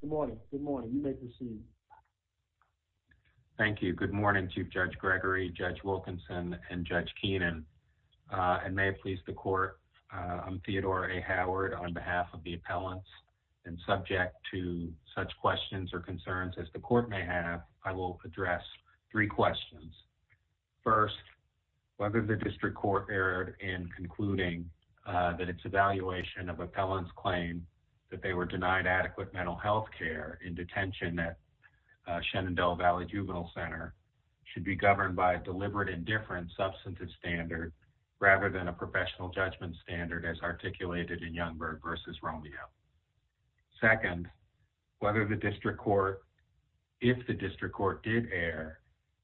Good morning. Good morning. You may proceed. Thank you. Good morning to Judge Gregory, Judge Wilkinson, and Judge Keenan. And may it please the court, I'm Theodore A. Howard on behalf of the appellants and subject to such questions or concerns as the court may have, I will address three questions. First, whether the district court erred in concluding that its evaluation of appellants claimed that they were denied adequate mental health care in detention at Shenandoah Valley Juvenile Center should be governed by a deliberate and different substantive standard rather than a professional judgment standard as articulated in Youngberg v. Romeo. Second, whether the district court, if the district court did err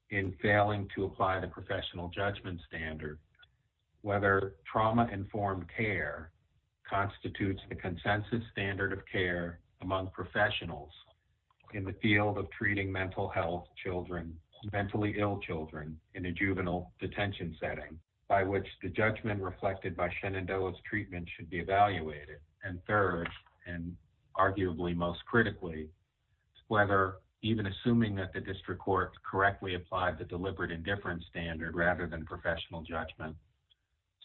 in failing to apply the professional judgment standard, whether trauma-informed care constitutes the consensus standard of care among professionals in the field of treating mental health children, mentally ill children in a juvenile detention setting by which the judgment reflected by Shenandoah's treatment should be evaluated. And third, and arguably most critically, whether even assuming that the district court correctly applied the deliberate and different standard rather than professional judgment,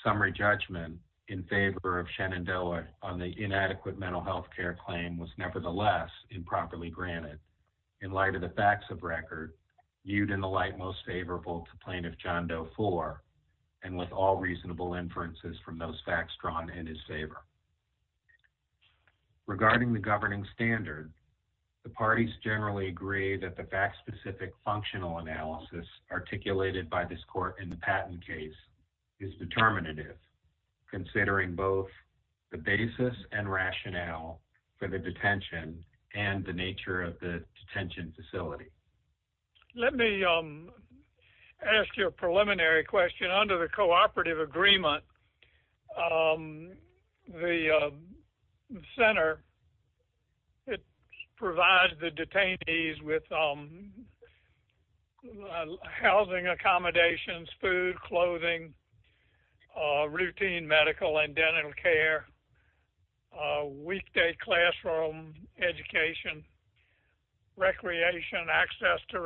summary judgment in favor of Shenandoah on the inadequate mental health care claim was nevertheless improperly granted in light of the facts of record viewed in the light most favorable to Plaintiff John Doe IV and with all reasonable inferences from those facts drawn in his favor. Regarding the governing standard, the parties generally agree that the fact-specific functional analysis articulated by this court in the Patton case is determinative, considering both the basis and rationale for the detention and the nature of the detention facility. Let me ask you a preliminary question. Under the cooperative agreement, the center provides the detainees with housing accommodations, food, clothing, routine medical and dental care, weekday classroom education, recreation, access to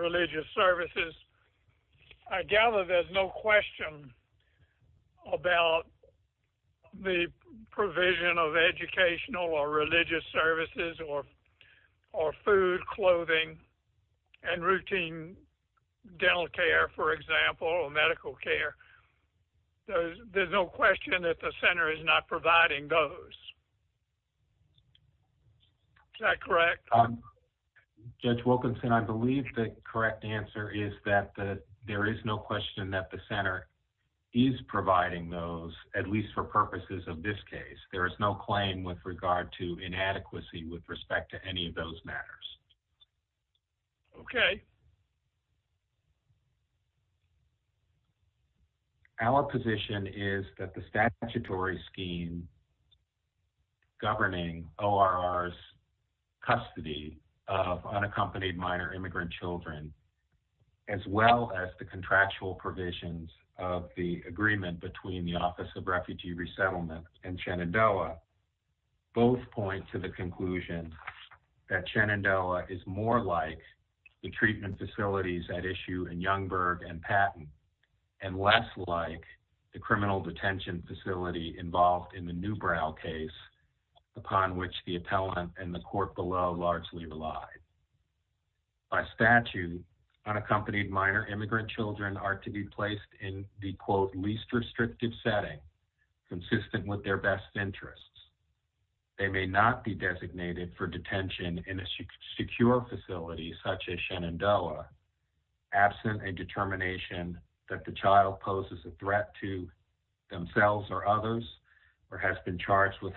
the provision of educational or religious services or food, clothing, and routine dental care, for example, or medical care. There's no question that the center is not providing those. Is that correct? Judge Wilkinson, I believe the correct answer is that there is no question that the center is providing those, at least for purposes of this case. There is no claim with regard to inadequacy with respect to any of those matters. Okay. Our position is that the statutory scheme governing ORR's custody of unaccompanied minor immigrant children, as well as the contractual provisions of the agreement between the Office of Refugee Resettlement and Shenandoah, both point to the conclusion that Shenandoah is more like the treatment facilities at issue in Youngberg and Patton, and less like the criminal detention facility involved in the Newbrow case, upon which the appellant and the court below largely relied. By statute, unaccompanied minor immigrant children are to be placed in the, quote, least restrictive setting, consistent with their best interests. They may not be designated for detention in a secure facility such as Shenandoah, absent a determination that the child poses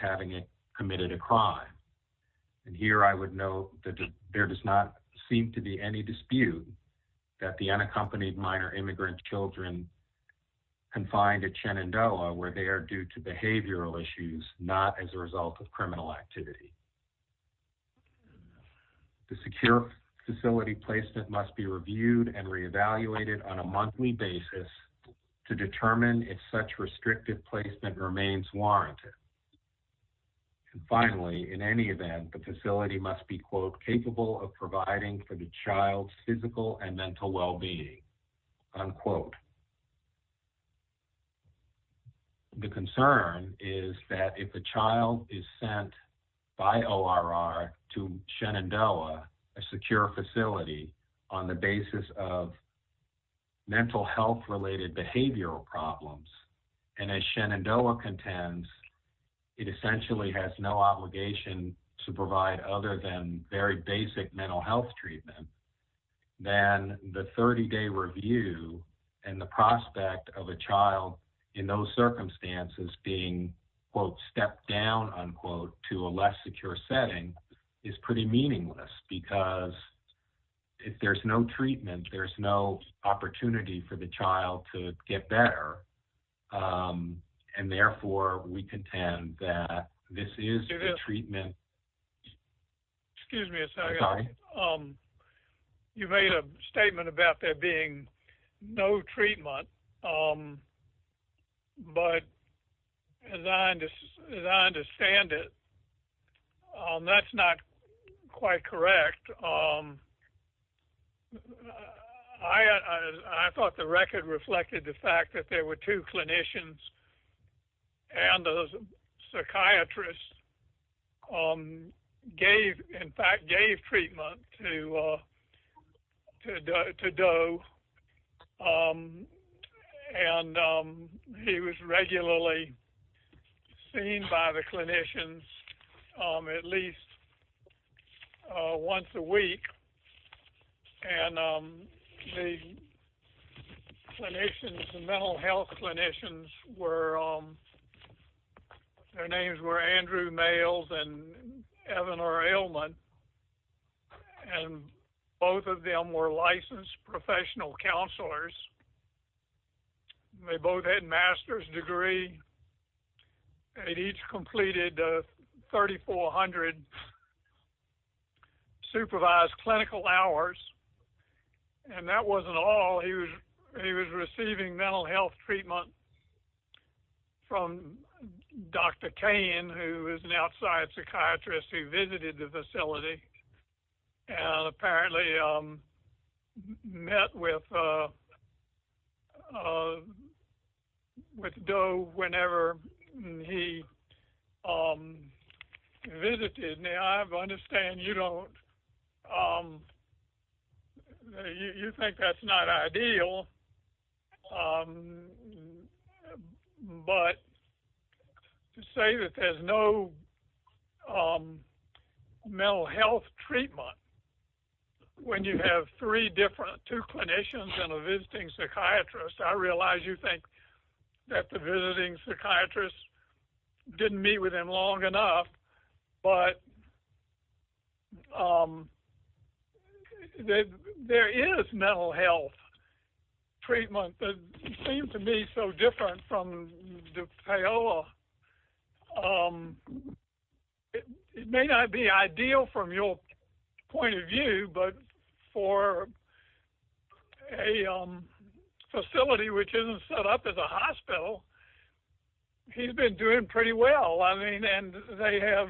a committed a crime. And here I would note that there does not seem to be any dispute that the unaccompanied minor immigrant children confined at Shenandoah, where they are due to behavioral issues, not as a result of criminal activity. The secure facility placement must be reviewed and reevaluated on a monthly basis to determine if such restrictive placement remains warranted. And finally, in any event, the facility must be, quote, capable of providing for the child's physical and mental wellbeing, unquote. The concern is that if a child is sent by ORR to Shenandoah, a secure facility, on the basis of mental health-related behavioral problems, and as Shenandoah contends, it essentially has no obligation to provide other than very basic mental health treatment, then the 30-day review and the prospect of a child in those circumstances being, quote, stepped down, unquote, to a less secure setting is pretty meaningless because if there's no treatment, there's no opportunity for the child to get better, and therefore, we contend that this is the treatment. Excuse me a second. You made a statement about there being no treatment, but as I understand it, that's not quite correct. I thought the record reflected the fact that there were two clinicians and a psychiatrist gave, in fact, gave treatment to Doe, and he was regularly seen by the clinicians at least once a week, and the clinicians, the mental health clinicians were, their names were Andrew Mayles and Evan R. Ailman, and both of them were licensed professional counselors. They both had a master's degree. They each completed 3,400 supervised clinical hours, and that wasn't all. He was receiving mental health treatment from Dr. Cain, who was an outside psychiatrist who visited the facility, and apparently met with Doe whenever he visited. Now, I understand you don't, you think that's not ideal, but to say that there's no mental health treatment when you have three different, two clinicians and a visiting psychiatrist, I realize you think that the visiting psychiatrist didn't meet with him long enough, but there is mental health treatment that seems to me so different from the payola. It may not be ideal from your point of view, but for a facility which isn't set up as a hospital, he's been doing pretty well. I mean, and they have,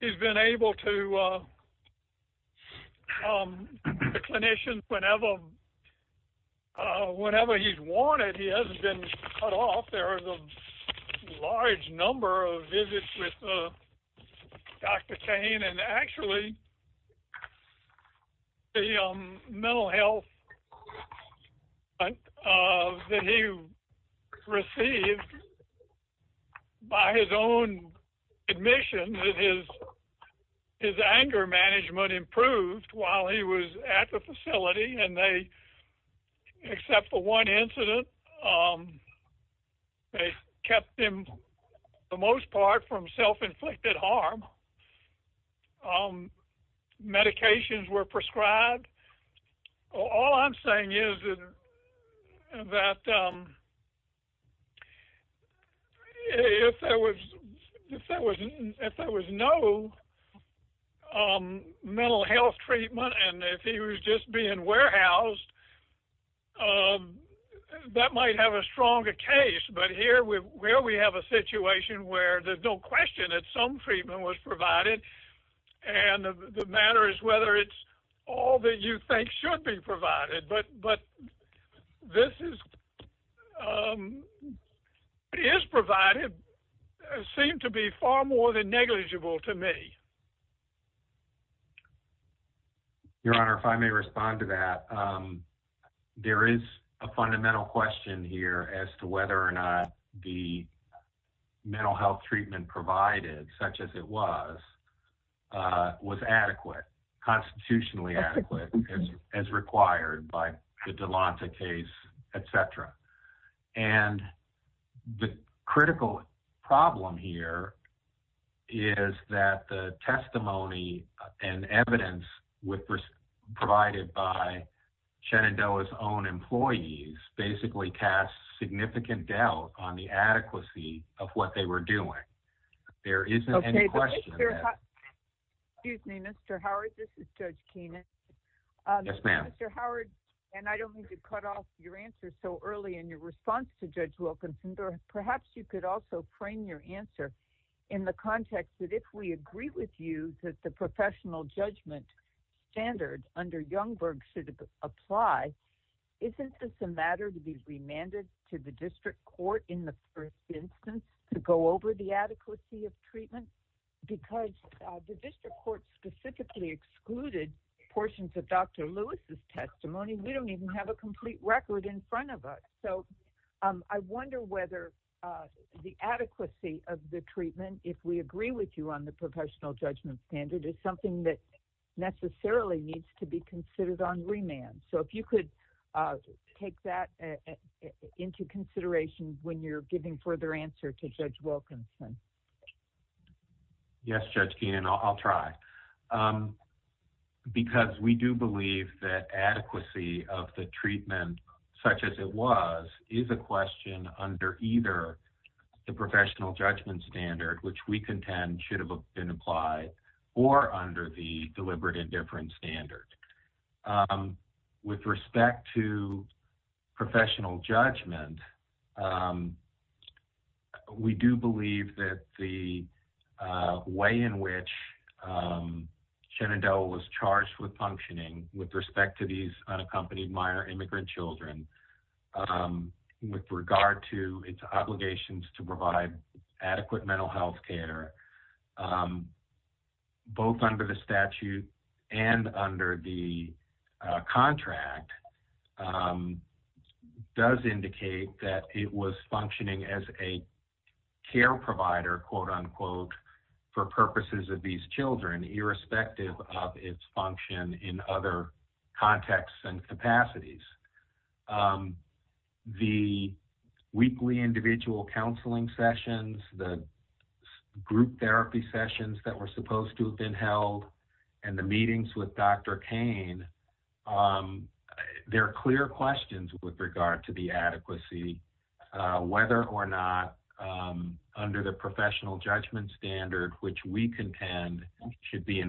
he's been able to, the clinicians, whenever he's wanted, he hasn't been cut off. There's a large number of visits with Dr. Cain, and actually, the mental health that he received by his own admission, his anger management improved while he was at the facility, and they, except for one incident, they kept him, for the most part, from self-inflicted harm. Medications were prescribed. All I'm saying is that if there was no mental health treatment, and if he was just being warehoused, that might have a stronger case, but here, where we have a situation where there's no question that some treatment was provided, and the matter is whether it's all that you think should be treated. Your Honor, if I may respond to that, there is a fundamental question here as to whether or not the mental health treatment provided, such as it was, was adequate, constitutionally adequate, as required by the Delonta case, et cetera, and the critical problem here is that the testimony and evidence provided by Shenandoah's own employees basically casts significant doubt on the adequacy of what they were doing. There isn't any question. Excuse me, Mr. Howard. This is Judge Keenan. Yes, ma'am. Mr. Howard, and I don't mean to cut off your answer so early in your response to Judge Wilkinson, but perhaps you could also frame your answer in the context that if we agree with you that the professional judgment standard under Youngberg should apply, isn't this a matter to be remanded to the district court in the first instance to go over the adequacy of treatment? Because the district court specifically excluded portions of Dr. Lewis's testimony. We don't even have a complete record in front of us. So I wonder whether the adequacy of the treatment, if we agree with you on the professional judgment standard, is something that necessarily needs to be considered on remand. So if you could take that into consideration when you're giving further answer to Judge Wilkinson. Yes, Judge Keenan, I'll try. Because we do believe that adequacy of the treatment such as it was is a question under either the professional judgment standard, which we contend should have been applied, or under the deliberate indifference standard. With respect to professional judgment, we do believe that the way in which Shenandoah was charged with functioning with respect to these unaccompanied minor immigrant children with regard to its obligations to provide adequate mental health care, both under the statute and under the contract, does indicate that it was functioning as a care provider, quote unquote, for purposes of these children, irrespective of its function in other contexts and capacities. The weekly individual counseling sessions, the group therapy sessions that were supposed to have been held, and the meetings with Dr. Kane, there are clear questions with regard to the adequacy, whether or not under the professional judgment standard, which we contend should be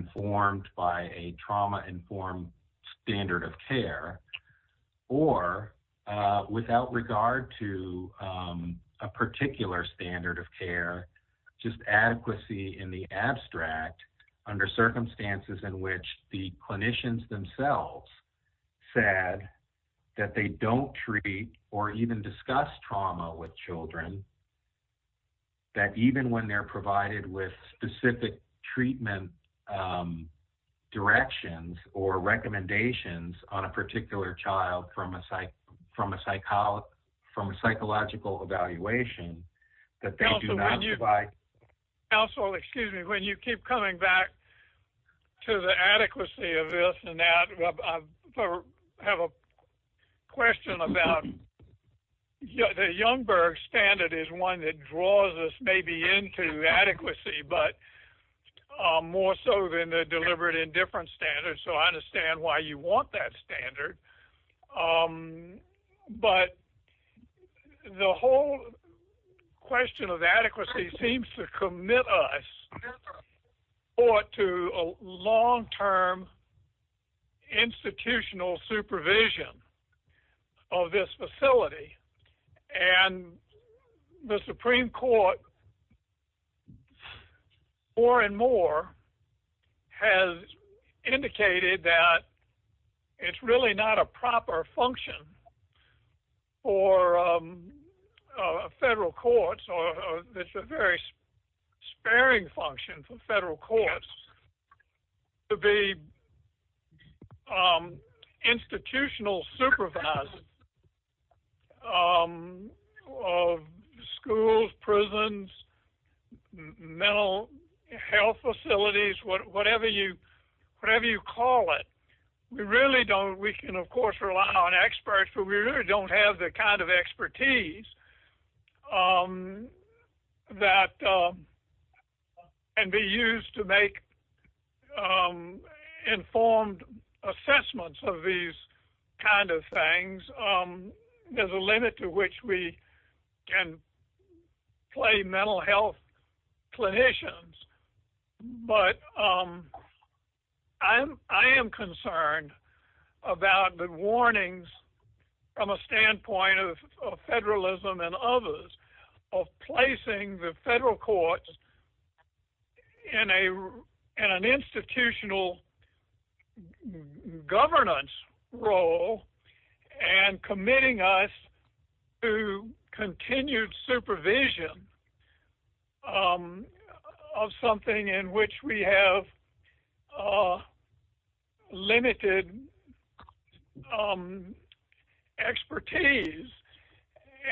or without regard to a particular standard of care, just adequacy in the abstract, under circumstances in which the clinicians themselves said that they don't treat or even discuss trauma with children, that even when they're provided with specific treatment and directions or recommendations on a particular child from a psychological evaluation, that they do not provide... Counselor, excuse me, when you keep coming back to the adequacy of this and that, I have a question about the Youngberg standard is one that draws us maybe into adequacy, but more so than the deliberate indifference standard. So I understand why you want that standard. But the whole question of adequacy seems to commit us to a long-term institutional supervision of this facility. And the Supreme Court more and more has indicated that it's really not a proper function for federal courts, or it's a very sparing function for federal courts to be able to make informed assessments of these kinds of things. There's a limit to which we can play mental health clinicians, but I am concerned about the warnings from a standpoint of federalism and others of placing the federal courts in an institutional governance role and committing us to continued supervision of something in which we have limited expertise.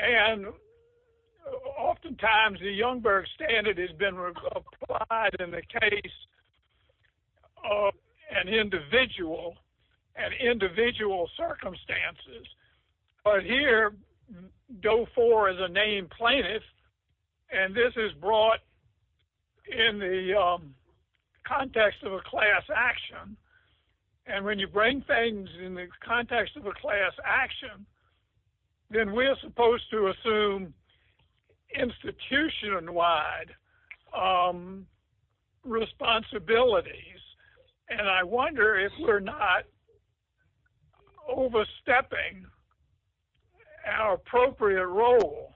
And oftentimes the Youngberg standard has been applied in the case of an individual and individual circumstances. But here, DOE-IV is a named plaintiff, and this is brought in the context of a class action. And when you bring things in the context of a class action, then we are supposed to assume institution-wide responsibilities. And I wonder if we're not overstepping our appropriate role.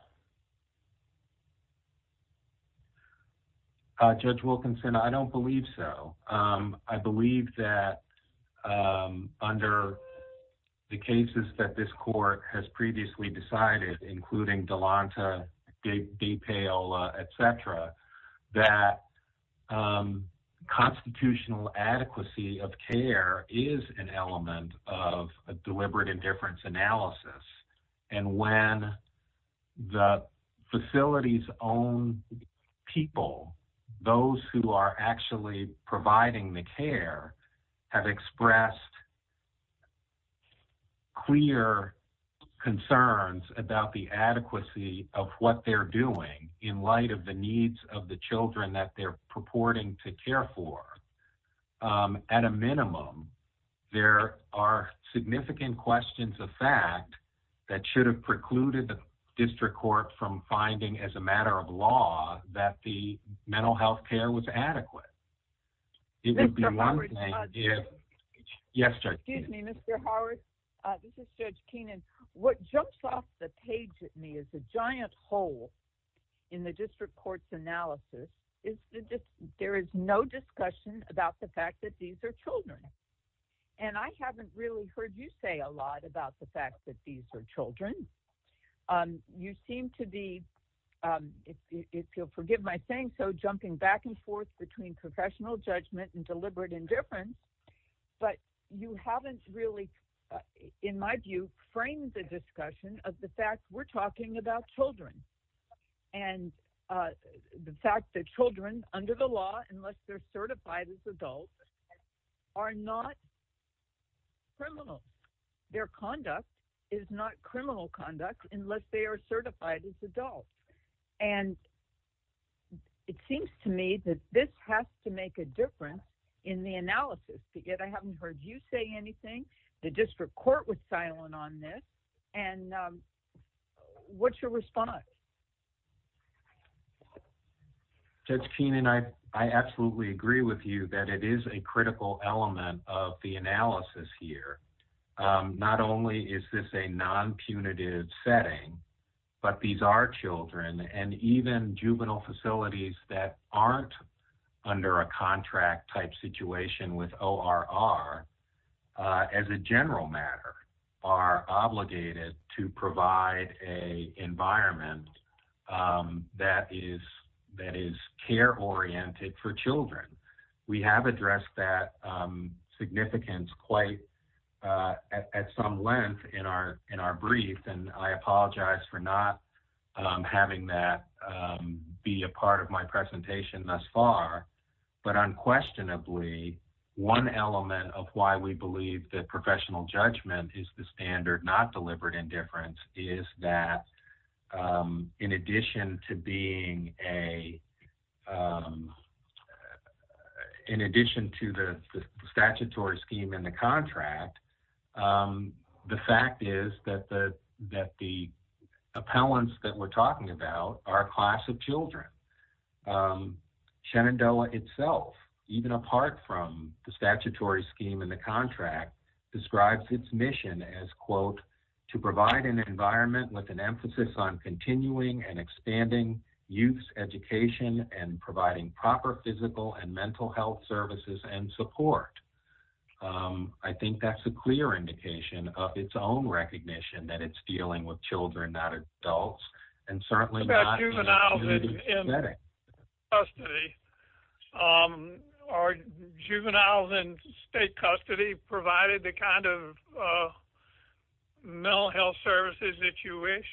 Judge Wilkinson, I don't believe so. I believe that under the cases that this court has previously decided, including Delonta, Gay-Paola, et cetera, that constitutional adequacy of care is an element of a deliberate indifference analysis. And when the facility's own people, those who are actually providing the care, have expressed clear concerns about the adequacy of what they're doing in light of the needs of the children that they're purporting to care for, at a minimum, there are significant questions of fact that should have precluded the district court from finding as a matter of law that the mental health care was adequate. It would be one thing if... Mr. Howard? Yes, Judge Keenan. Excuse me, Mr. Howard. This is Judge Keenan. What jumps off the page at me as a giant hole in the district court's there is no discussion about the fact that these are children. And I haven't really heard you say a lot about the fact that these are children. You seem to be, if you'll forgive my saying so, jumping back and forth between professional judgment and deliberate indifference. But you haven't really, in my view, framed the discussion of the fact we're talking about children. And the fact that children, under the law, unless they're certified as adults, are not criminal. Their conduct is not criminal conduct unless they are certified as adults. And it seems to me that this has to make a difference in the analysis. Yet I haven't heard you say anything. The district court was silent on this. And what's your response? Judge Keenan, I absolutely agree with you that it is a critical element of the analysis here. Not only is this a non-punitive setting, but these are children. And even juvenile facilities that under a contract-type situation with ORR, as a general matter, are obligated to provide an environment that is care-oriented for children. We have addressed that significance quite at some length in our brief. And I apologize for not having that be a part of my presentation thus far. But unquestionably, one element of why we believe that professional judgment is the standard, not deliberate indifference, is that in addition to the statutory scheme in the contract, the fact is that the appellants that we're talking about are a class of children. Shenandoah itself, even apart from the statutory scheme in the contract, describes its mission as, quote, to provide an environment with an emphasis on continuing and expanding youth's education and providing proper physical and mental health services and support. I think that's a clear indication of its own recognition that it's dealing with children, not adults, and certainly not a punitive setting. What about juveniles in custody? Are juveniles in state custody provided the kind of mental health services that you wish?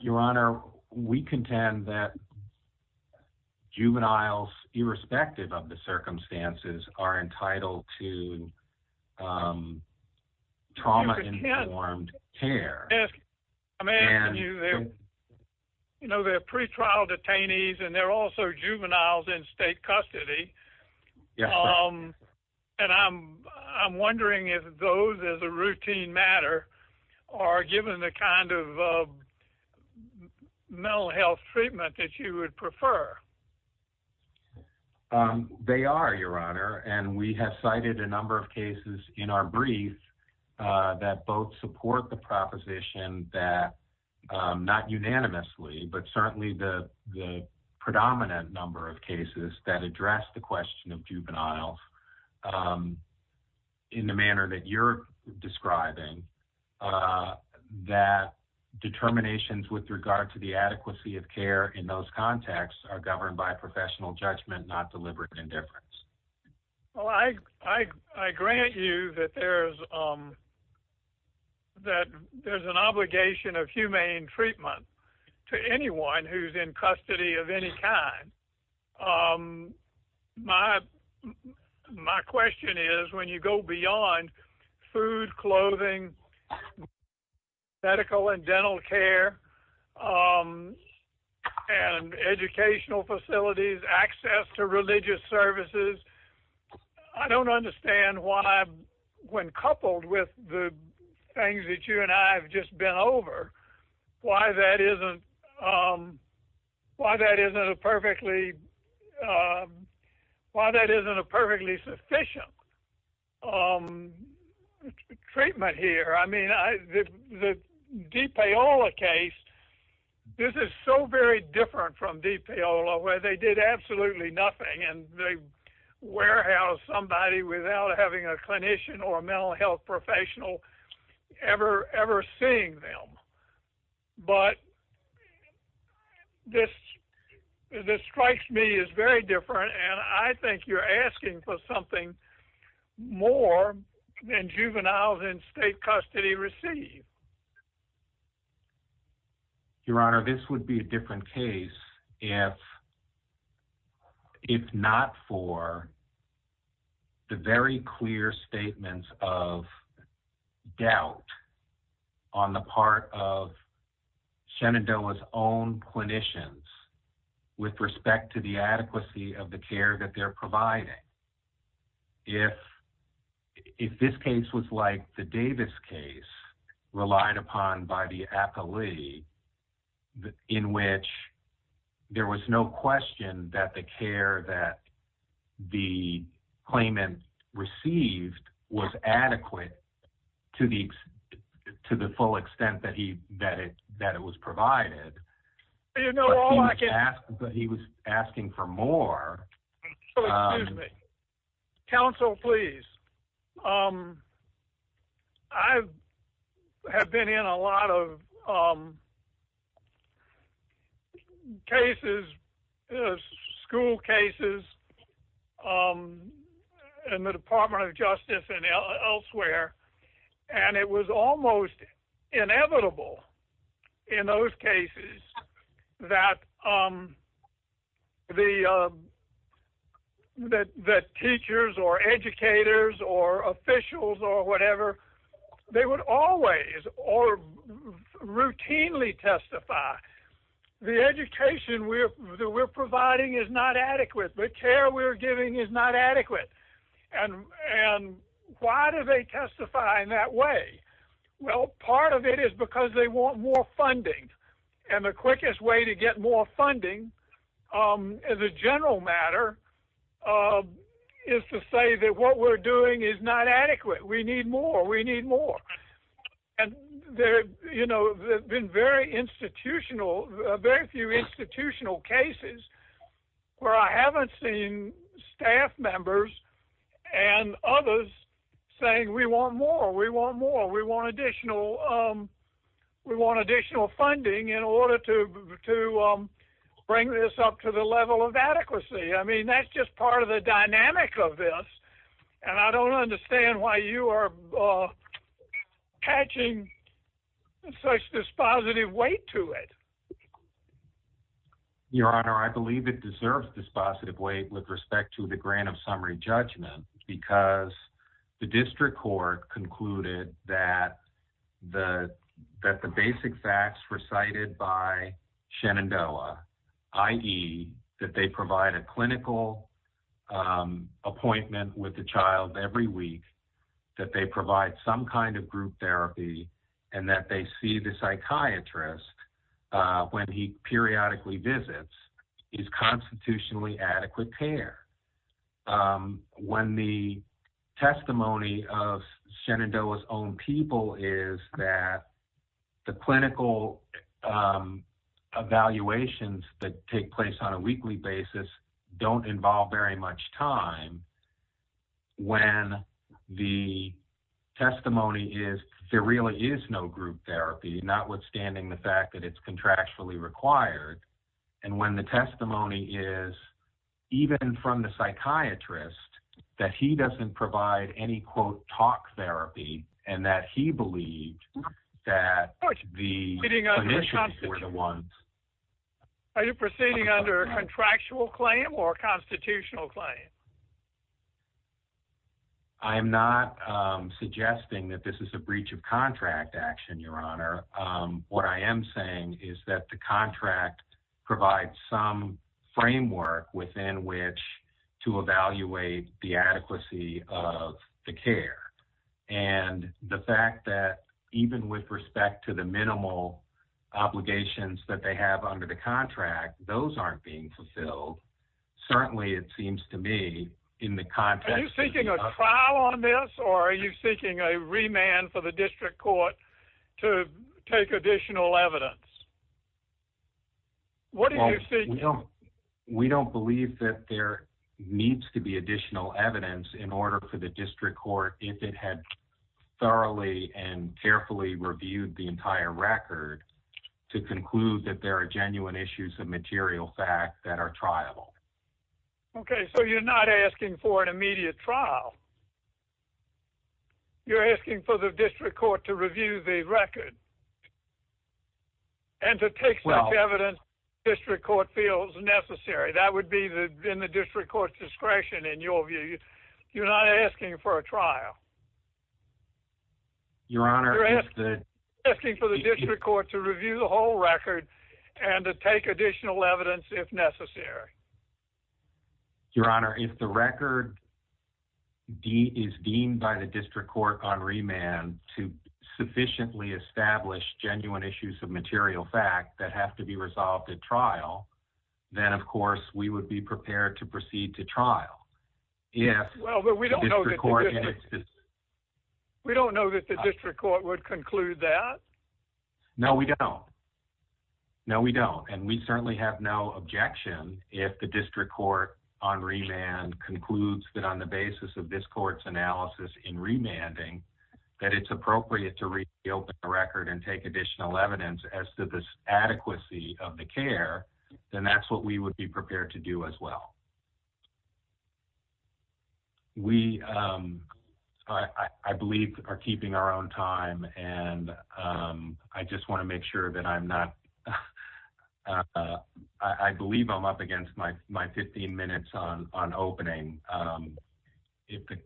Your Honor, we contend that juveniles, irrespective of the circumstances, are entitled to trauma-informed care. You know, they're pretrial detainees, and they're also juveniles in state custody. And I'm wondering if those, as a routine matter, are given the kind of mental health treatment that you would prefer. They are, Your Honor, and we have cited a number of cases in our brief that both support the proposition that, not unanimously, but certainly the predominant number of cases that address the question of juveniles in the manner that you're describing, that determinations with regard to adequacy of care in those contexts are governed by professional judgment, not deliberate indifference. Well, I grant you that there's an obligation of humane treatment to anyone who's in custody of any kind. My question is, when you go beyond food, clothing, medical and dental care, and educational facilities, access to religious services, I don't understand why, when coupled with the things that you and I have just been over, why that isn't a perfectly sufficient treatment here. I mean, the DePaola case, this is so very different from DePaola, where they did absolutely nothing, and they warehoused somebody without having a clinician or a mental health professional ever seeing them. But this strikes me as very different, and I think you're asking for something more than juveniles in state custody receive. Your Honor, this would be a different case if not for the very clear statements of doubt on the part of Shenandoah's own clinicians with respect to the adequacy of the care that they're providing. If this case was like the Davis case relied upon by the athlete, in which there was no question that the care that the claimant received was adequate to the full extent that it was provided, but he was asking for more. Counsel, please. I have been in a lot of cases, school cases, in the Department of Justice and elsewhere, and it was almost inevitable in those cases that teachers or educators or officials or whatever, they would always or the education that we're providing is not adequate. The care we're giving is not adequate. And why do they testify in that way? Well, part of it is because they want more funding, and the quickest way to get more funding as a general matter is to say that what we're doing is not adequate. We need more. We need more. And there have been very few institutional cases where I haven't seen staff members and others saying we want more, we want more, we want additional funding in order to bring this up to the level of adequacy. I mean, that's just part of the dynamic of this. And I don't understand why you are catching such dispositive weight to it. Your Honor, I believe it deserves dispositive weight with respect to the grant of summary judgment because the district court concluded that the basic facts recited by Shenandoah, i.e. that they provide a clinical appointment with the child every week, that they provide some kind of group therapy, and that they see the psychiatrist when he periodically visits is constitutionally adequate care. When the testimony of Shenandoah's own people is that the clinical evaluations that take place on a weekly basis don't involve very much time, when the testimony is there really is no group therapy, notwithstanding the fact that it's contractually required, and when the testimony is, even from the psychiatrist, that he doesn't provide any, quote, talk therapy, and that he believed that the clinicians were the ones. Are you proceeding under a contractual claim or a constitutional claim? I'm not suggesting that this is a breach of contract action, Your Honor. What I am saying is that the contract provides some framework within which to evaluate the adequacy of the care, and the fact that even with respect to the minimal obligations that they have under the contract, those aren't being fulfilled. Certainly, it seems to me in the context... Are you seeking a trial on this, or are you seeking a remand for the district court to take additional evidence? What do you think? We don't believe that there needs to be additional evidence in order for the district court, if it had thoroughly and carefully reviewed the entire record, to conclude that there are genuine issues of material fact that are triable. Okay, so you're not asking for an immediate trial. You're asking for the district court to review the record, and to take such evidence the district court feels necessary. That would be in the district court's discretion, in your view. You're not asking for a trial. Your Honor, if the... You're asking for the district court to review the whole record, and to take additional evidence, if necessary. Your Honor, if the record is deemed by the district court on remand to sufficiently establish genuine issues of material fact that have to be resolved at trial, then, of course, we would be prepared to proceed to trial. Yes, but we don't know that the district court would conclude that. No, we don't. No, we don't, and we certainly have no objection, if the district court on remand concludes that on the basis of this court's analysis in remanding, that it's appropriate to reopen the record and take additional evidence as to the adequacy of the care, then that's what we would be prepared to do as well. We, I believe, are keeping our own time, and I just want to make sure that I'm not... I believe I'm up against my 15 minutes on opening. If the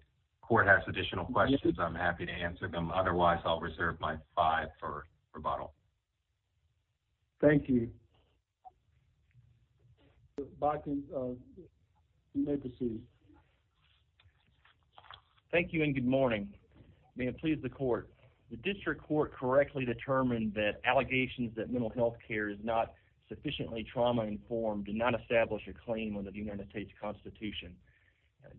court has additional questions, I'm happy to answer them. Otherwise, I'll reserve my five for rebuttal. Thank you. Thank you, and good morning. May it please the court. The district court correctly determined that allegations that mental health care is not sufficiently trauma-informed did not establish a claim under the United States Constitution.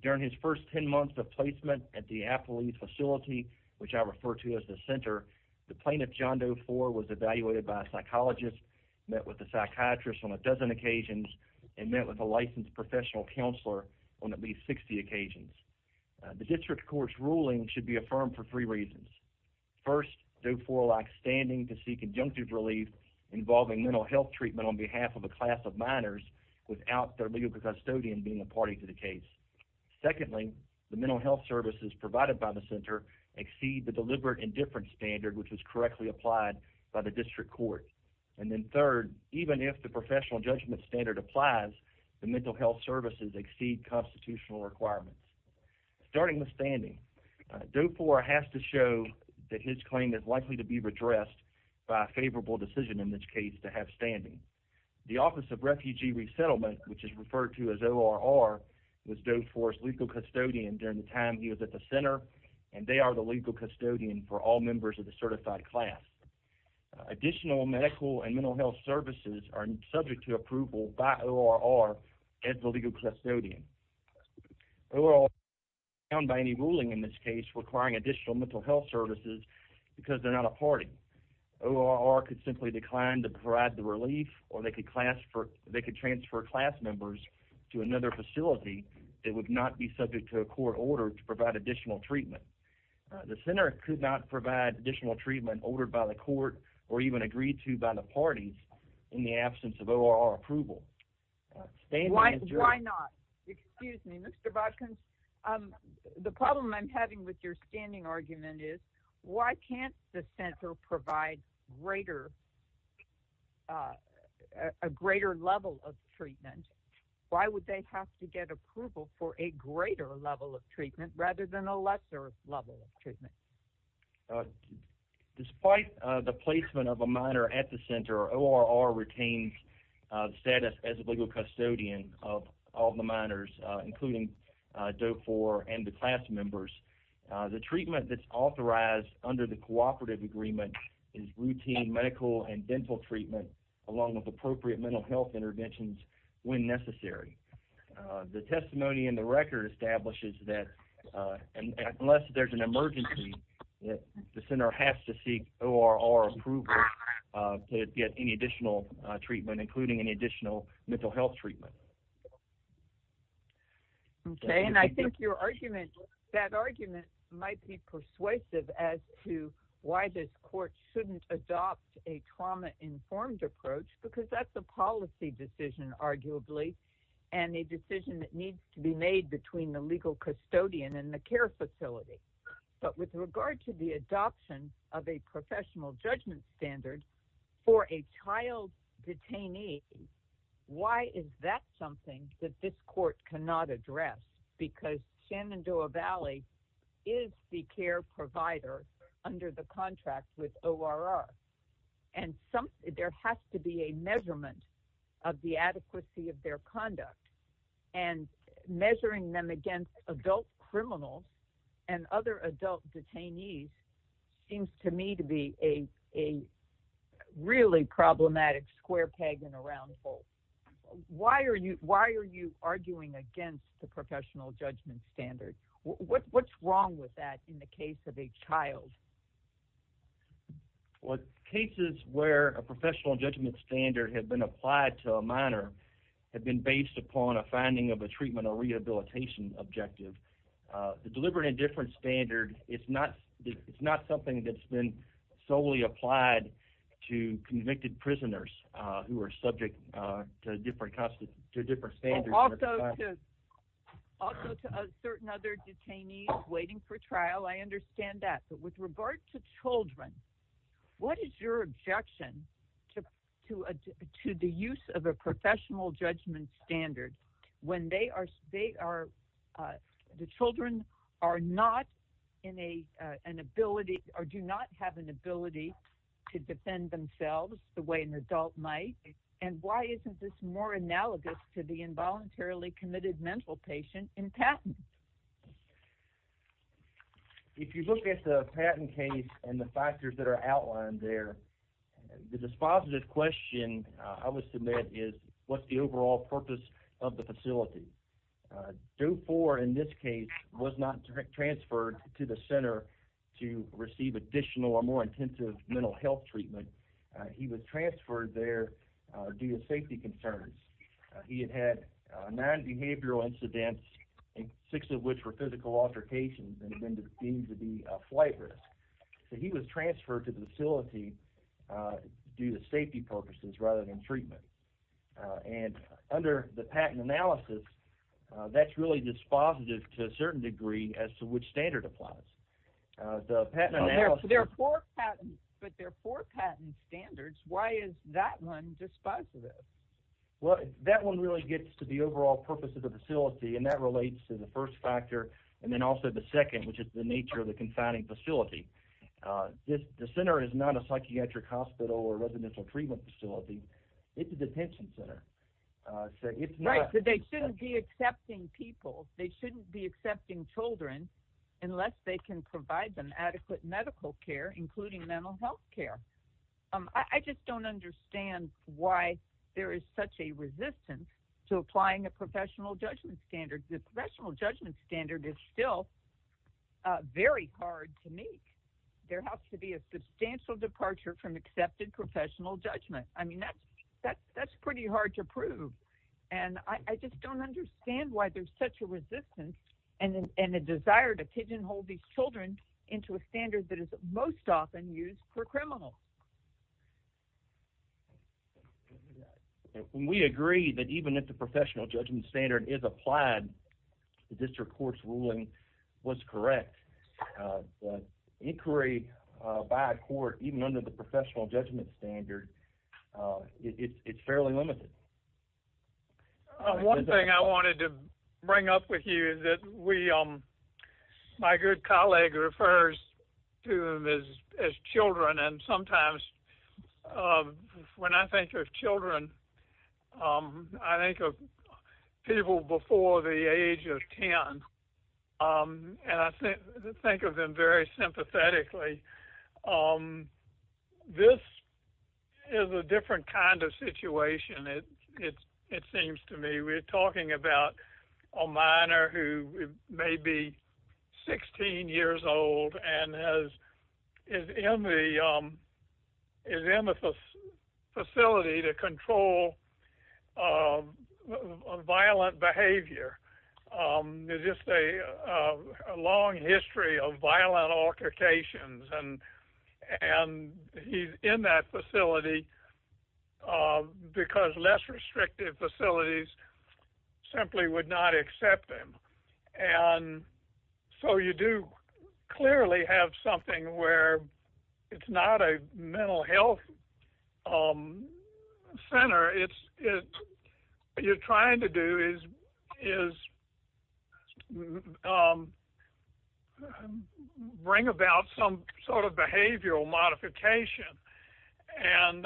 During his first 10 months of placement at the Apley facility, which I refer to as the center, the plaintiff, John Doe 4, was evaluated by a psychologist, met with a psychiatrist on a dozen occasions, and met with a licensed professional counselor on at least 60 occasions. The district court's ruling should be affirmed for three conjunctive relief involving mental health treatment on behalf of a class of minors without their legal custodian being a party to the case. Secondly, the mental health services provided by the center exceed the deliberate indifference standard, which was correctly applied by the district court. And then third, even if the professional judgment standard applies, the mental health services exceed constitutional requirements. Starting with standing, Doe 4 has to show that his claim is likely to be redressed by a favorable decision in this case to have standing. The Office of Refugee Resettlement, which is referred to as ORR, was Doe 4's legal custodian during the time he was at the center, and they are the legal custodian for all members of the certified class. Additional medical and mental health services are found by any ruling in this case requiring additional mental health services because they're not a party. ORR could simply decline to provide the relief, or they could transfer class members to another facility that would not be subject to a court order to provide additional treatment. The center could not provide additional treatment ordered by the court or even agreed to by the parties in the absence of ORR approval. Why not? Excuse me, Mr. Bobkins. The problem I'm having with your standing argument is, why can't the center provide a greater level of treatment? Why would they have to get approval for a greater level of treatment rather than a lesser level of treatment? Despite the placement of a minor at the center, ORR retains the status as a legal custodian of all the minors, including Doe 4 and the class members. The treatment that's authorized under the cooperative agreement is routine medical and dental treatment along with appropriate mental health interventions when necessary. The testimony in the record establishes that unless there's an emergency, the center has to provide additional treatment, including any additional mental health treatment. Okay, and I think that argument might be persuasive as to why this court shouldn't adopt a trauma-informed approach, because that's a policy decision, arguably, and a decision that needs to be made between the legal custodian and the care facility. But with regard to the adoption of a professional judgment standard for a child detainee, why is that something that this court cannot address? Because Shenandoah Valley is the care provider under the contract with ORR, and there has to be a measurement of the adequacy of their adult detainees. It seems to me to be a really problematic square peg in a round hole. Why are you arguing against the professional judgment standard? What's wrong with that in the case of a child? Well, cases where a professional judgment standard had been applied to a minor have been based upon a finding of a treatment or rehabilitation objective. The deliberate indifference standard, it's not something that's been solely applied to convicted prisoners who are subject to different standards. Also to certain other detainees waiting for trial, I understand that. But with regard to children, what is your objection to the use of a professional judgment standard when they are the children are not in an ability or do not have an ability to defend themselves the way an adult might? And why isn't this more analogous to the involuntarily committed mental patient in patent? If you look at the patent case and the factors that are outlined there, the dispositive question I would submit is what's the overall purpose of the facility? DOE 4 in this case was not transferred to the center to receive additional or more intensive mental health treatment. He was transferred there due to safety concerns. He had had non-behavioral incidents, six of which were physical altercations and had been deemed to be a flight risk. So he was transferred to the facility due to safety purposes rather than analysis. That's really dispositive to a certain degree as to which standard applies. There are four patents, but there are four patent standards. Why is that one dispositive? That one really gets to the overall purpose of the facility and that relates to the first factor and then also the second, which is the nature of the confining facility. The center is not a psychiatric hospital or residential treatment facility. It's a detention center. They shouldn't be accepting people. They shouldn't be accepting children unless they can provide them adequate medical care, including mental health care. I just don't understand why there is such a resistance to applying a professional judgment standard. The professional judgment standard is still very hard to meet. There has to be substantial departure from accepted professional judgment. That's pretty hard to prove. I just don't understand why there's such a resistance and a desire to pigeonhole these children into a standard that is most often used for criminals. We agree that even if the professional judgment standard is applied, the district court's ruling was correct. Inquiry by court, even under the professional judgment standard, it's fairly limited. One thing I wanted to bring up with you is that my good colleague refers to them as children and sometimes when I think of children, I think of people before the age of 10. I think of them very sympathetically. This is a different kind of situation, it seems to me. We're talking about a minor who may be 16 years old and is in the facility to control a violent behavior. There's a long history of violent altercations and he's in that facility because less restrictive facilities simply would not accept him. You do clearly have something where it's not a mental health center. What you're trying to do is bring about some sort of behavioral modification. And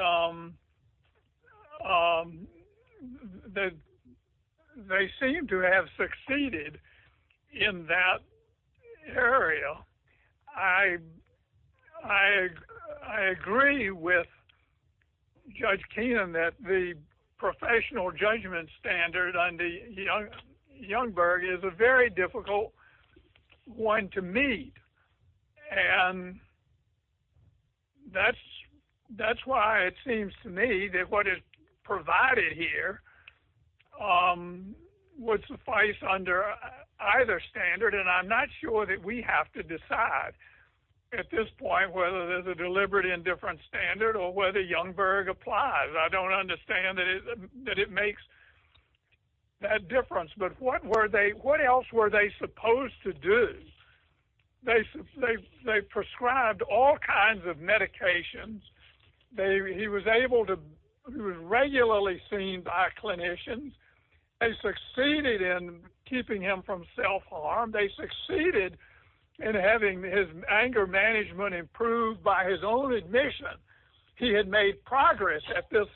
they seem to have succeeded in that area. I agree with Judge Keenan that the professional judgment standard under Youngberg is a very difficult one to meet. And that's why it seems to me that what is provided here would suffice under either standard and I'm not sure that we have to decide at this point whether there's a deliberate and different standard or whether Youngberg applies. I don't understand that it makes that difference. But what else were they supposed to do? They prescribed all kinds of medications. He was regularly seen by clinicians. They succeeded in keeping him from self-harm. They succeeded in having his anger management improved by his own admission. He had made progress at this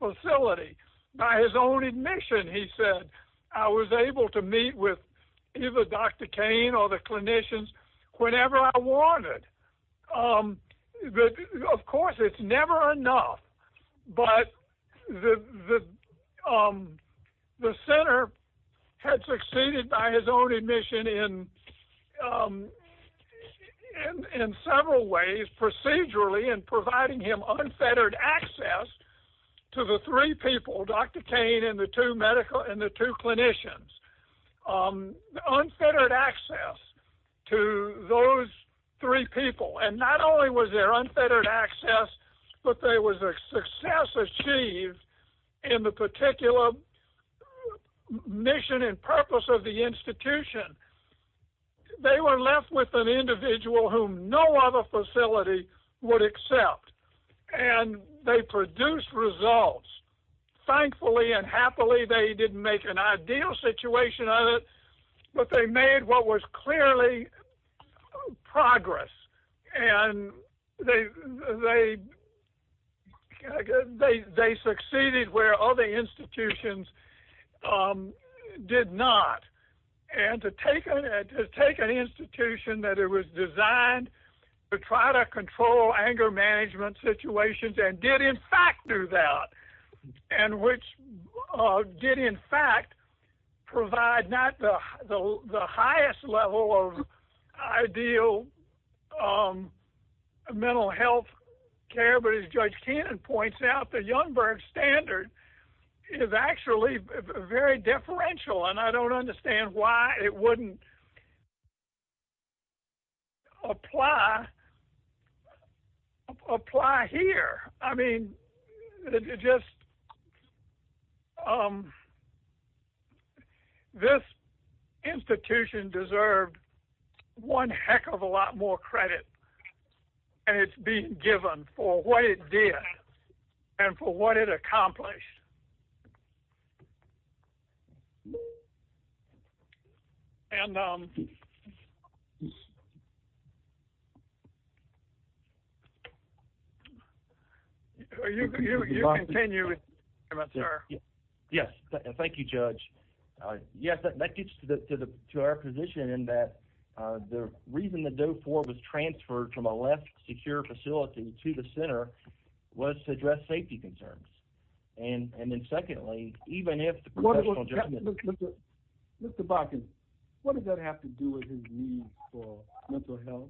facility by his own admission. He said, I was able to meet with either Dr. Kane or the clinicians whenever I wanted. Of course, it's never enough. But the center had succeeded by his own admission in several ways procedurally in providing him unfettered access to the three people, Dr. Kane and the two clinicians. Unfettered access to those three people. And not only was there unfettered access, but there was a success achieved in the particular mission and purpose of the institution they were left with an individual whom no other facility would accept. And they produced results. Thankfully and happily, they didn't make an ideal situation of it, but they made what was clearly progress. And they succeeded where other institutions did not. And to take an institution that was designed to try to control anger management situations and did in fact do that, and which did in fact provide not the highest level of ideal mental health care, but as Judge Cannon points out, the Youngberg standard is actually very differential. And I just, this institution deserved one heck of a lot more credit. And it's being given for what it did and for what it accomplished. And so, you can continue, if that's fair. Yes. Thank you, Judge. Yes, that gets to our position in that the reason that DOE-IV was transferred from a left secure facility to the center was to address safety concerns. And then have to do with his need for mental health.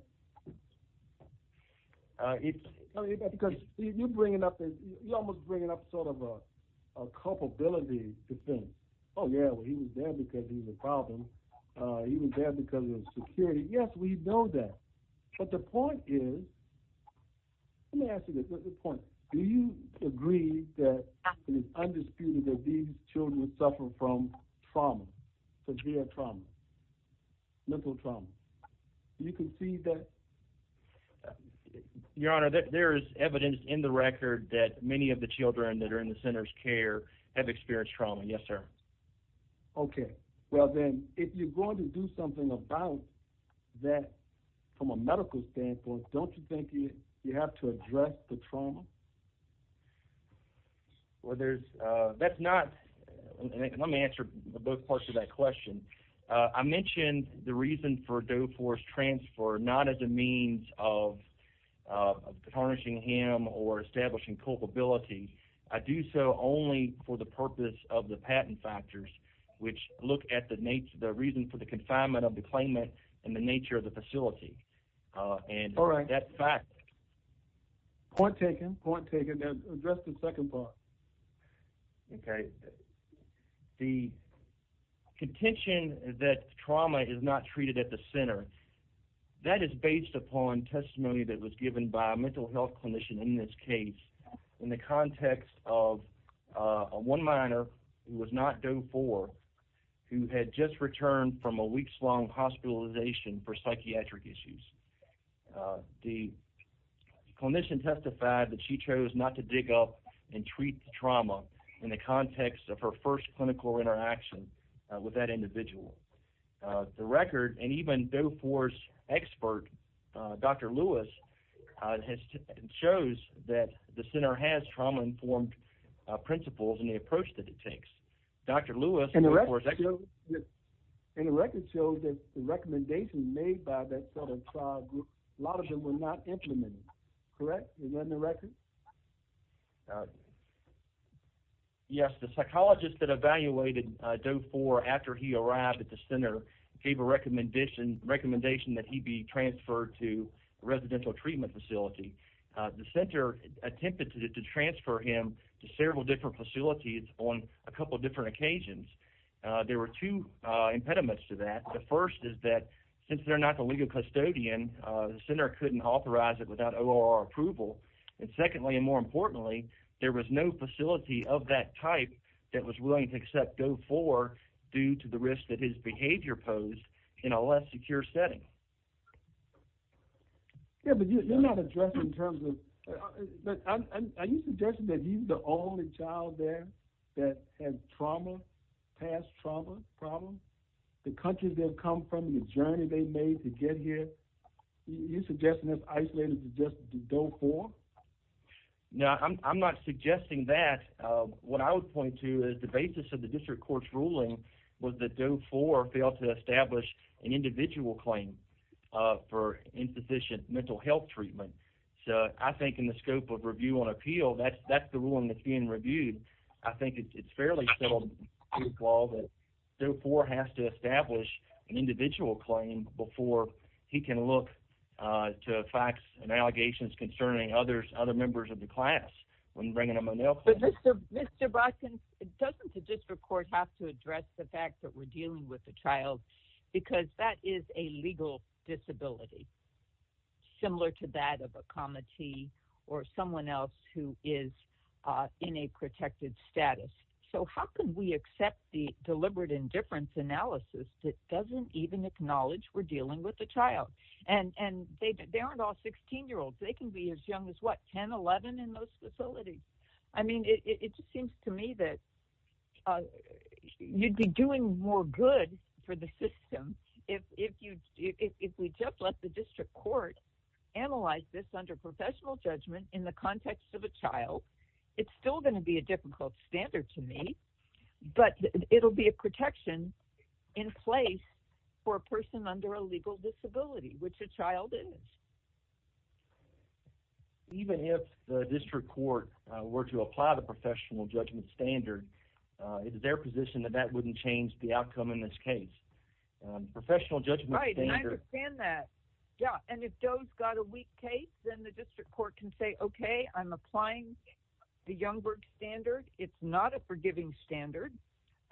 Because you're bringing up, you're almost bringing up sort of a culpability to think, oh yeah, well, he was there because he was a problem. He was there because of security. Yes, we know that. But the point is, let me ask you this, what's the point? Do you agree that it is undisputed that these children suffer from trauma, severe trauma, mental trauma? You can see that. Your Honor, there is evidence in the record that many of the children that are in the center's care have experienced trauma. Yes, sir. Okay. Well then, if you're going to do something about that from a medical standpoint, don't you think you have to address the trauma? Well, there's, that's not, let me answer both parts of that question. I mentioned the reason for DOE-IV's transfer not as a means of tarnishing him or establishing culpability. I do so only for the purpose of the patent factors, which look at the reason for the confinement of the claimant and the nature of the facility. All right. Point taken. Point taken. Now, address the second part. Okay. The contention that trauma is not treated at the center, that is based upon testimony that was given by a mental health clinician in this case in the context of a one minor who was not DOE-IV who had just returned from a weeks-long hospitalization for psychiatric issues. The clinician testified that she chose not to dig up and treat the trauma in the context of her first clinical interaction with that individual. The record, and even DOE-IV's expert, Dr. Lewis, shows that the center has trauma-informed principles in the approach that it takes. Dr. Lewis, DOE-IV's expert... And the record shows that the recommendations made by that sort of trial group, a lot of them were not implemented. Correct? Is that in the gave a recommendation that he be transferred to a residential treatment facility. The center attempted to transfer him to several different facilities on a couple of different occasions. There were two impediments to that. The first is that since they're not the legal custodian, the center couldn't authorize it without ORR approval. And secondly, and more importantly, there was no facility of that type that was willing to accept DOE-IV due to the risk that his behavior posed in a less secure setting. Yeah, but you're not addressing in terms of... Are you suggesting that he's the only child there that has trauma, past trauma problems? The country they've come from, the journey they made to get here? You're suggesting it's isolated to DOE-IV? No, I'm not suggesting that. What I would point to is the basis of the district court's ruling was that DOE-IV failed to establish an individual claim for insufficient mental health treatment. So I think in the scope of review on appeal, that's the ruling that's being reviewed. I think it's fairly settled to the law that DOE-IV has to he can look to facts and allegations concerning other members of the class when bringing them an appeal. But Mr. Botkin, doesn't the district court have to address the fact that we're dealing with a child because that is a legal disability, similar to that of a comity or someone else who is in a protected status? So how can we accept the deliberate indifference analysis that doesn't even acknowledge we're dealing with a child? And they aren't all 16-year-olds. They can be as young as, what, 10, 11 in those facilities. I mean, it just seems to me that you'd be doing more good for the system if we just let the district court analyze this under professional judgment in the context of a child. It's still going to be a difficult standard to meet, but it'll be a protection in place for a person under a legal disability, which a child is. Even if the district court were to apply the professional judgment standard, is it their position that that wouldn't change the outcome in this case? Professional judgment standard... I understand that. Yeah. And if DOE's got a weak case, then the district court can say, okay, I'm applying the Youngberg standard. It's not a giving standard.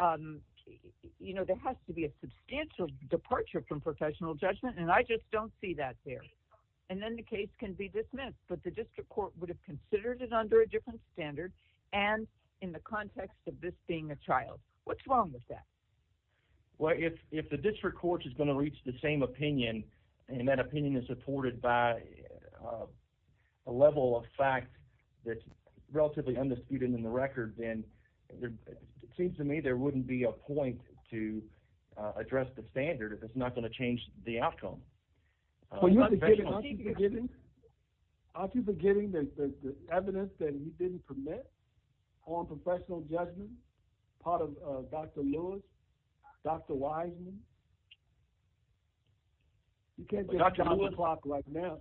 There has to be a substantial departure from professional judgment, and I just don't see that there. And then the case can be dismissed, but the district court would have considered it under a different standard and in the context of this being a child. What's wrong with that? Well, if the district court is going to reach the same opinion, and that opinion is supported by a level of fact that's relatively undisputed in the record, then it seems to me there wouldn't be a point to address the standard if it's not going to change the outcome. Aren't you forgetting the evidence that we didn't permit on professional judgment, part of Dr. Lewis, Dr. Wiseman? You can't get a clock right now.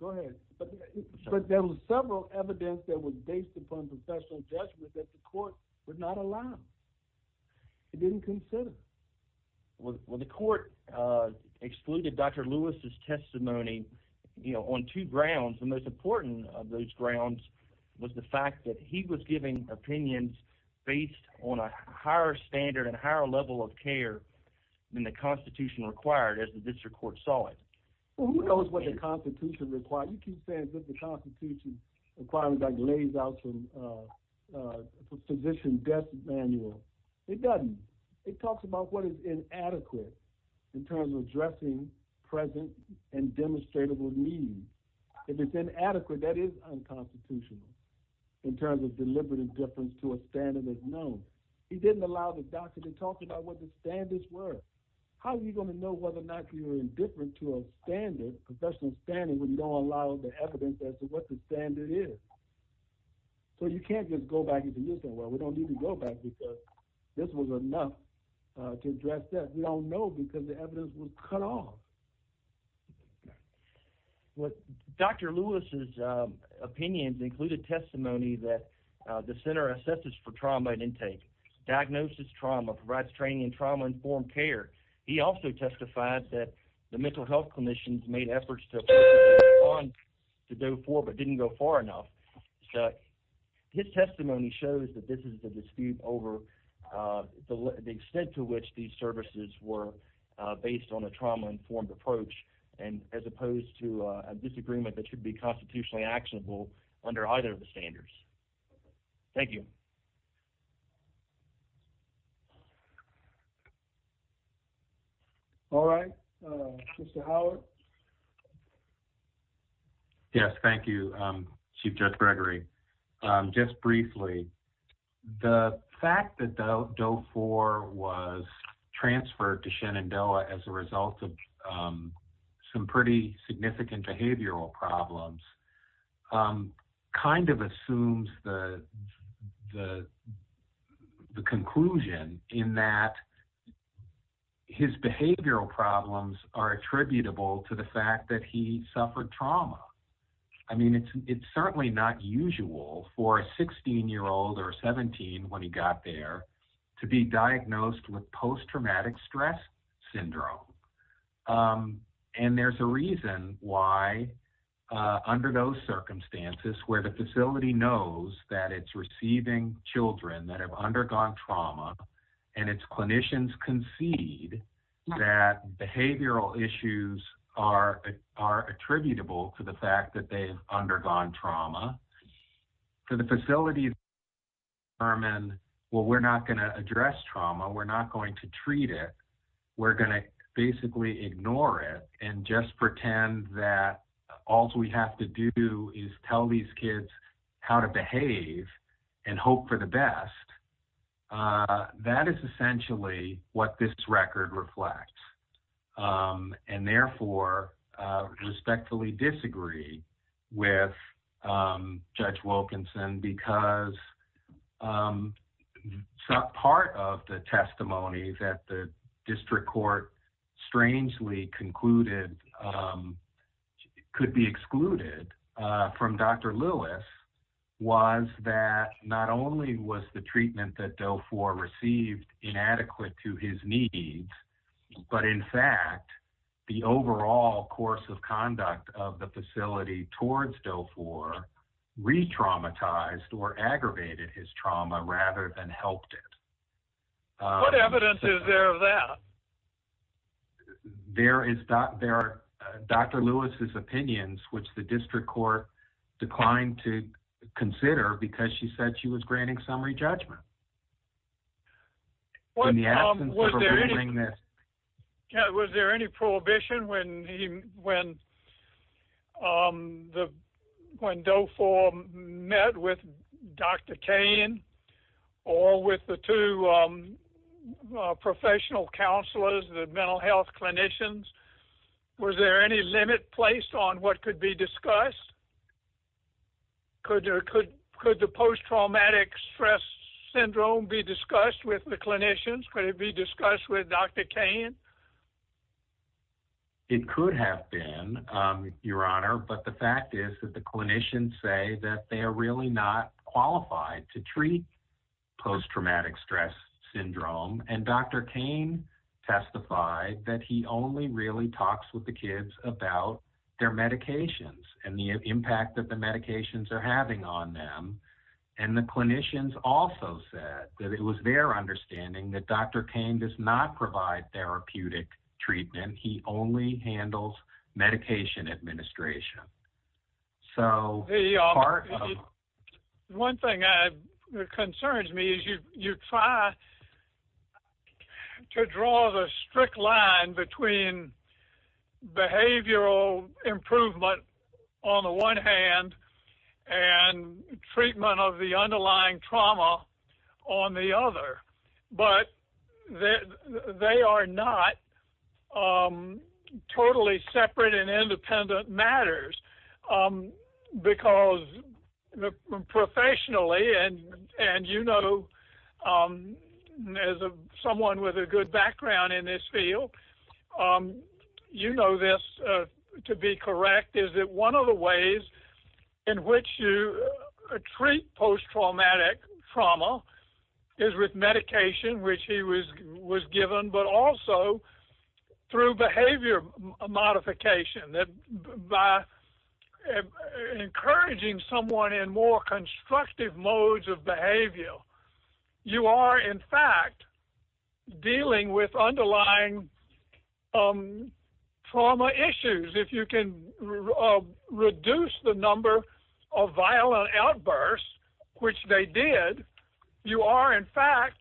Go ahead. But there was several evidence that was based upon professional judgment that the court would not allow. It didn't consider. Well, the court excluded Dr. Lewis's testimony on two grounds. The most important of those grounds was the fact that he was giving opinions based on a higher standard and higher level of care than the constitution required as the district court saw it. Well, who knows what the constitution requires? You keep saying that the constitution requires like lays out some physician death manual. It doesn't. It talks about what is inadequate in terms of addressing present and demonstrable needs. If it's inadequate, that is unconstitutional in terms of deliberate indifference to a standard that's known. He didn't allow the doctor to talk about what the standards were. How are you going to know whether or not you're indifferent to a professional standard when you don't allow the evidence as to what the standard is? So you can't just go back and say, well, we don't need to go back because this was enough to address that. We don't know because the evidence was cut off. Dr. Lewis's opinions included testimony that the center assesses for trauma and intake. Diagnosis trauma, provides training in trauma informed care. He also testified that the mental health clinicians made efforts to go forward but didn't go far enough. His testimony shows that this is a dispute over the extent to which these services were based on a trauma informed approach and as opposed to a disagreement that should be constitutionally actionable under either of the standards. Thank you. All right. Mr. Howard. Yes. Thank you, Chief Judge Gregory. Just briefly, the fact that DOE 4 was transferred to Shenandoah as a result of some pretty significant behavioral problems kind of assumes the conclusion in that his behavioral problems are attributable to the fact that he suffered trauma. I mean, it's certainly not usual for a 16 year old or 17 when he got there to be diagnosed with post-traumatic stress syndrome. And there's a those circumstances where the facility knows that it's receiving children that have undergone trauma and its clinicians concede that behavioral issues are attributable to the fact that they've undergone trauma. For the facility to determine, well, we're not going to address trauma, we're not going to treat it. We're going to basically ignore it and just pretend that all we have to do is tell these kids how to behave and hope for the best. That is essentially what this record reflects and therefore respectfully disagree with Judge Wilkinson because some part of the testimony that the district court strangely concluded could be excluded from Dr. Lewis was that not only was the treatment that DOE 4 received inadequate to his needs, but in fact, the overall course of conduct of the facility towards DOE 4 re-traumatized or aggravated his trauma rather than helped it. What evidence is there of that? There are Dr. Lewis's opinions, which the district court declined to consider because she said she was granting summary judgment in the absence of her reviewing this. Was there any prohibition when DOE 4 met with Dr. Kane or with the two professional counselors, the mental health clinicians? Was there any limit placed on what could be discussed? Could the post-traumatic stress syndrome be discussed with the clinicians? Could it be discussed with Dr. Kane? It could have been, Your Honor, but the fact is that the clinicians say they are really not qualified to treat post-traumatic stress syndrome. Dr. Kane testified that he only really talks with the kids about their medications and the impact that the medications are having on them. The clinicians also said that it was their understanding that Dr. Kane does not speak to. One thing that concerns me is you try to draw the strict line between behavioral improvement on the one hand and treatment of the underlying trauma on the other, but they are not totally separate and independent matters because professionally, and you know as someone with a good background in this field, you know this to be correct, is that one of the ways in which you treat post-traumatic trauma is with medication, which he was given, but also through behavior modification. By encouraging someone in more constructive modes of behavior, you are in fact dealing with underlying trauma issues. If you can reduce the number of violent outbursts, which they did, you are in fact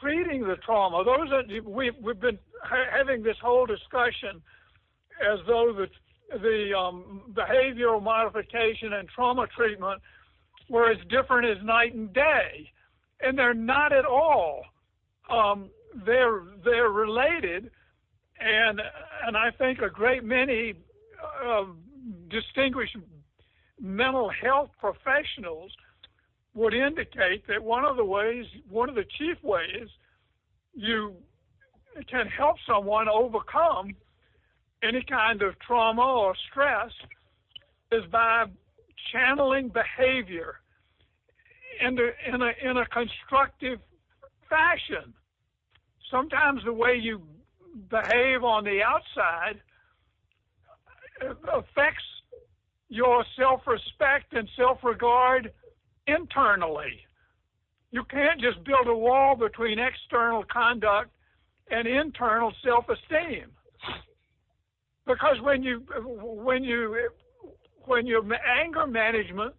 treating the trauma. We have been having this whole discussion as though the behavioral modification and trauma treatment were as different as night and day, and they are not at all. They are related, and I think a great many distinguished mental health professionals would indicate that one of the ways, one of the chief ways you can help someone overcome any kind of trauma or stress is by channeling behavior in a constructive fashion. Sometimes the way you behave on the outside affects your self-respect and self-regard internally. You can't just build a wall between external conduct and internal self-esteem because when your anger management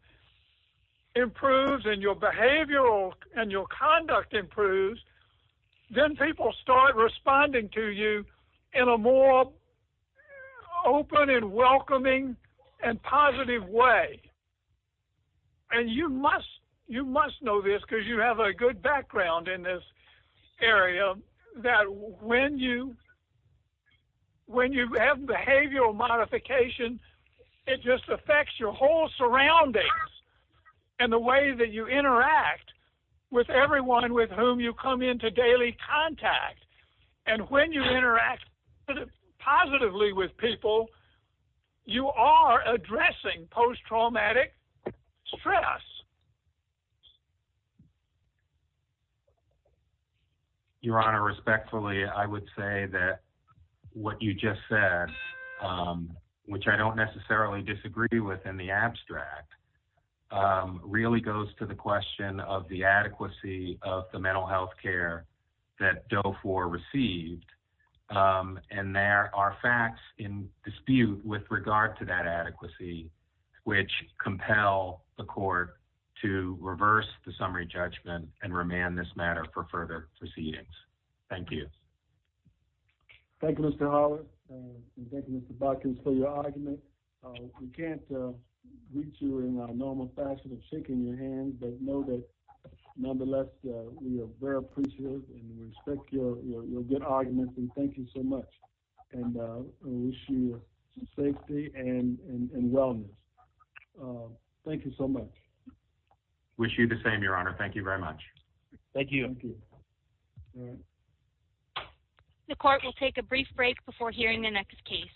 improves and your behavior and your conduct improves, then people start responding to you in a more open and welcoming and positive way. You must know this because you have a good background in this area that when you have behavioral modification, it just affects your whole surroundings and the way that you interact with everyone with whom you come into daily contact. When you interact positively with people, you are addressing post-traumatic stress. Your Honor, respectfully, I would say that what you just said, which I don't necessarily disagree with in the abstract, really goes to the question of the adequacy of the mental health care that DOFOR received. There are facts in dispute with regard to that adequacy, which compel the court to reverse the summary judgment and remand this matter for further proceedings. Thank you. Thank you, Mr. Hollis. Thank you, Mr. Botkins, for your argument. We can't reach you in a normal fashion of shaking your hand, but know that nonetheless, we are very appreciative and respect your good arguments and thank you so much. I wish you safety and wellness. Thank you so much. Wish you the same, Your Honor. Thank you very much. Thank you. The court will take a brief break before hearing the next case.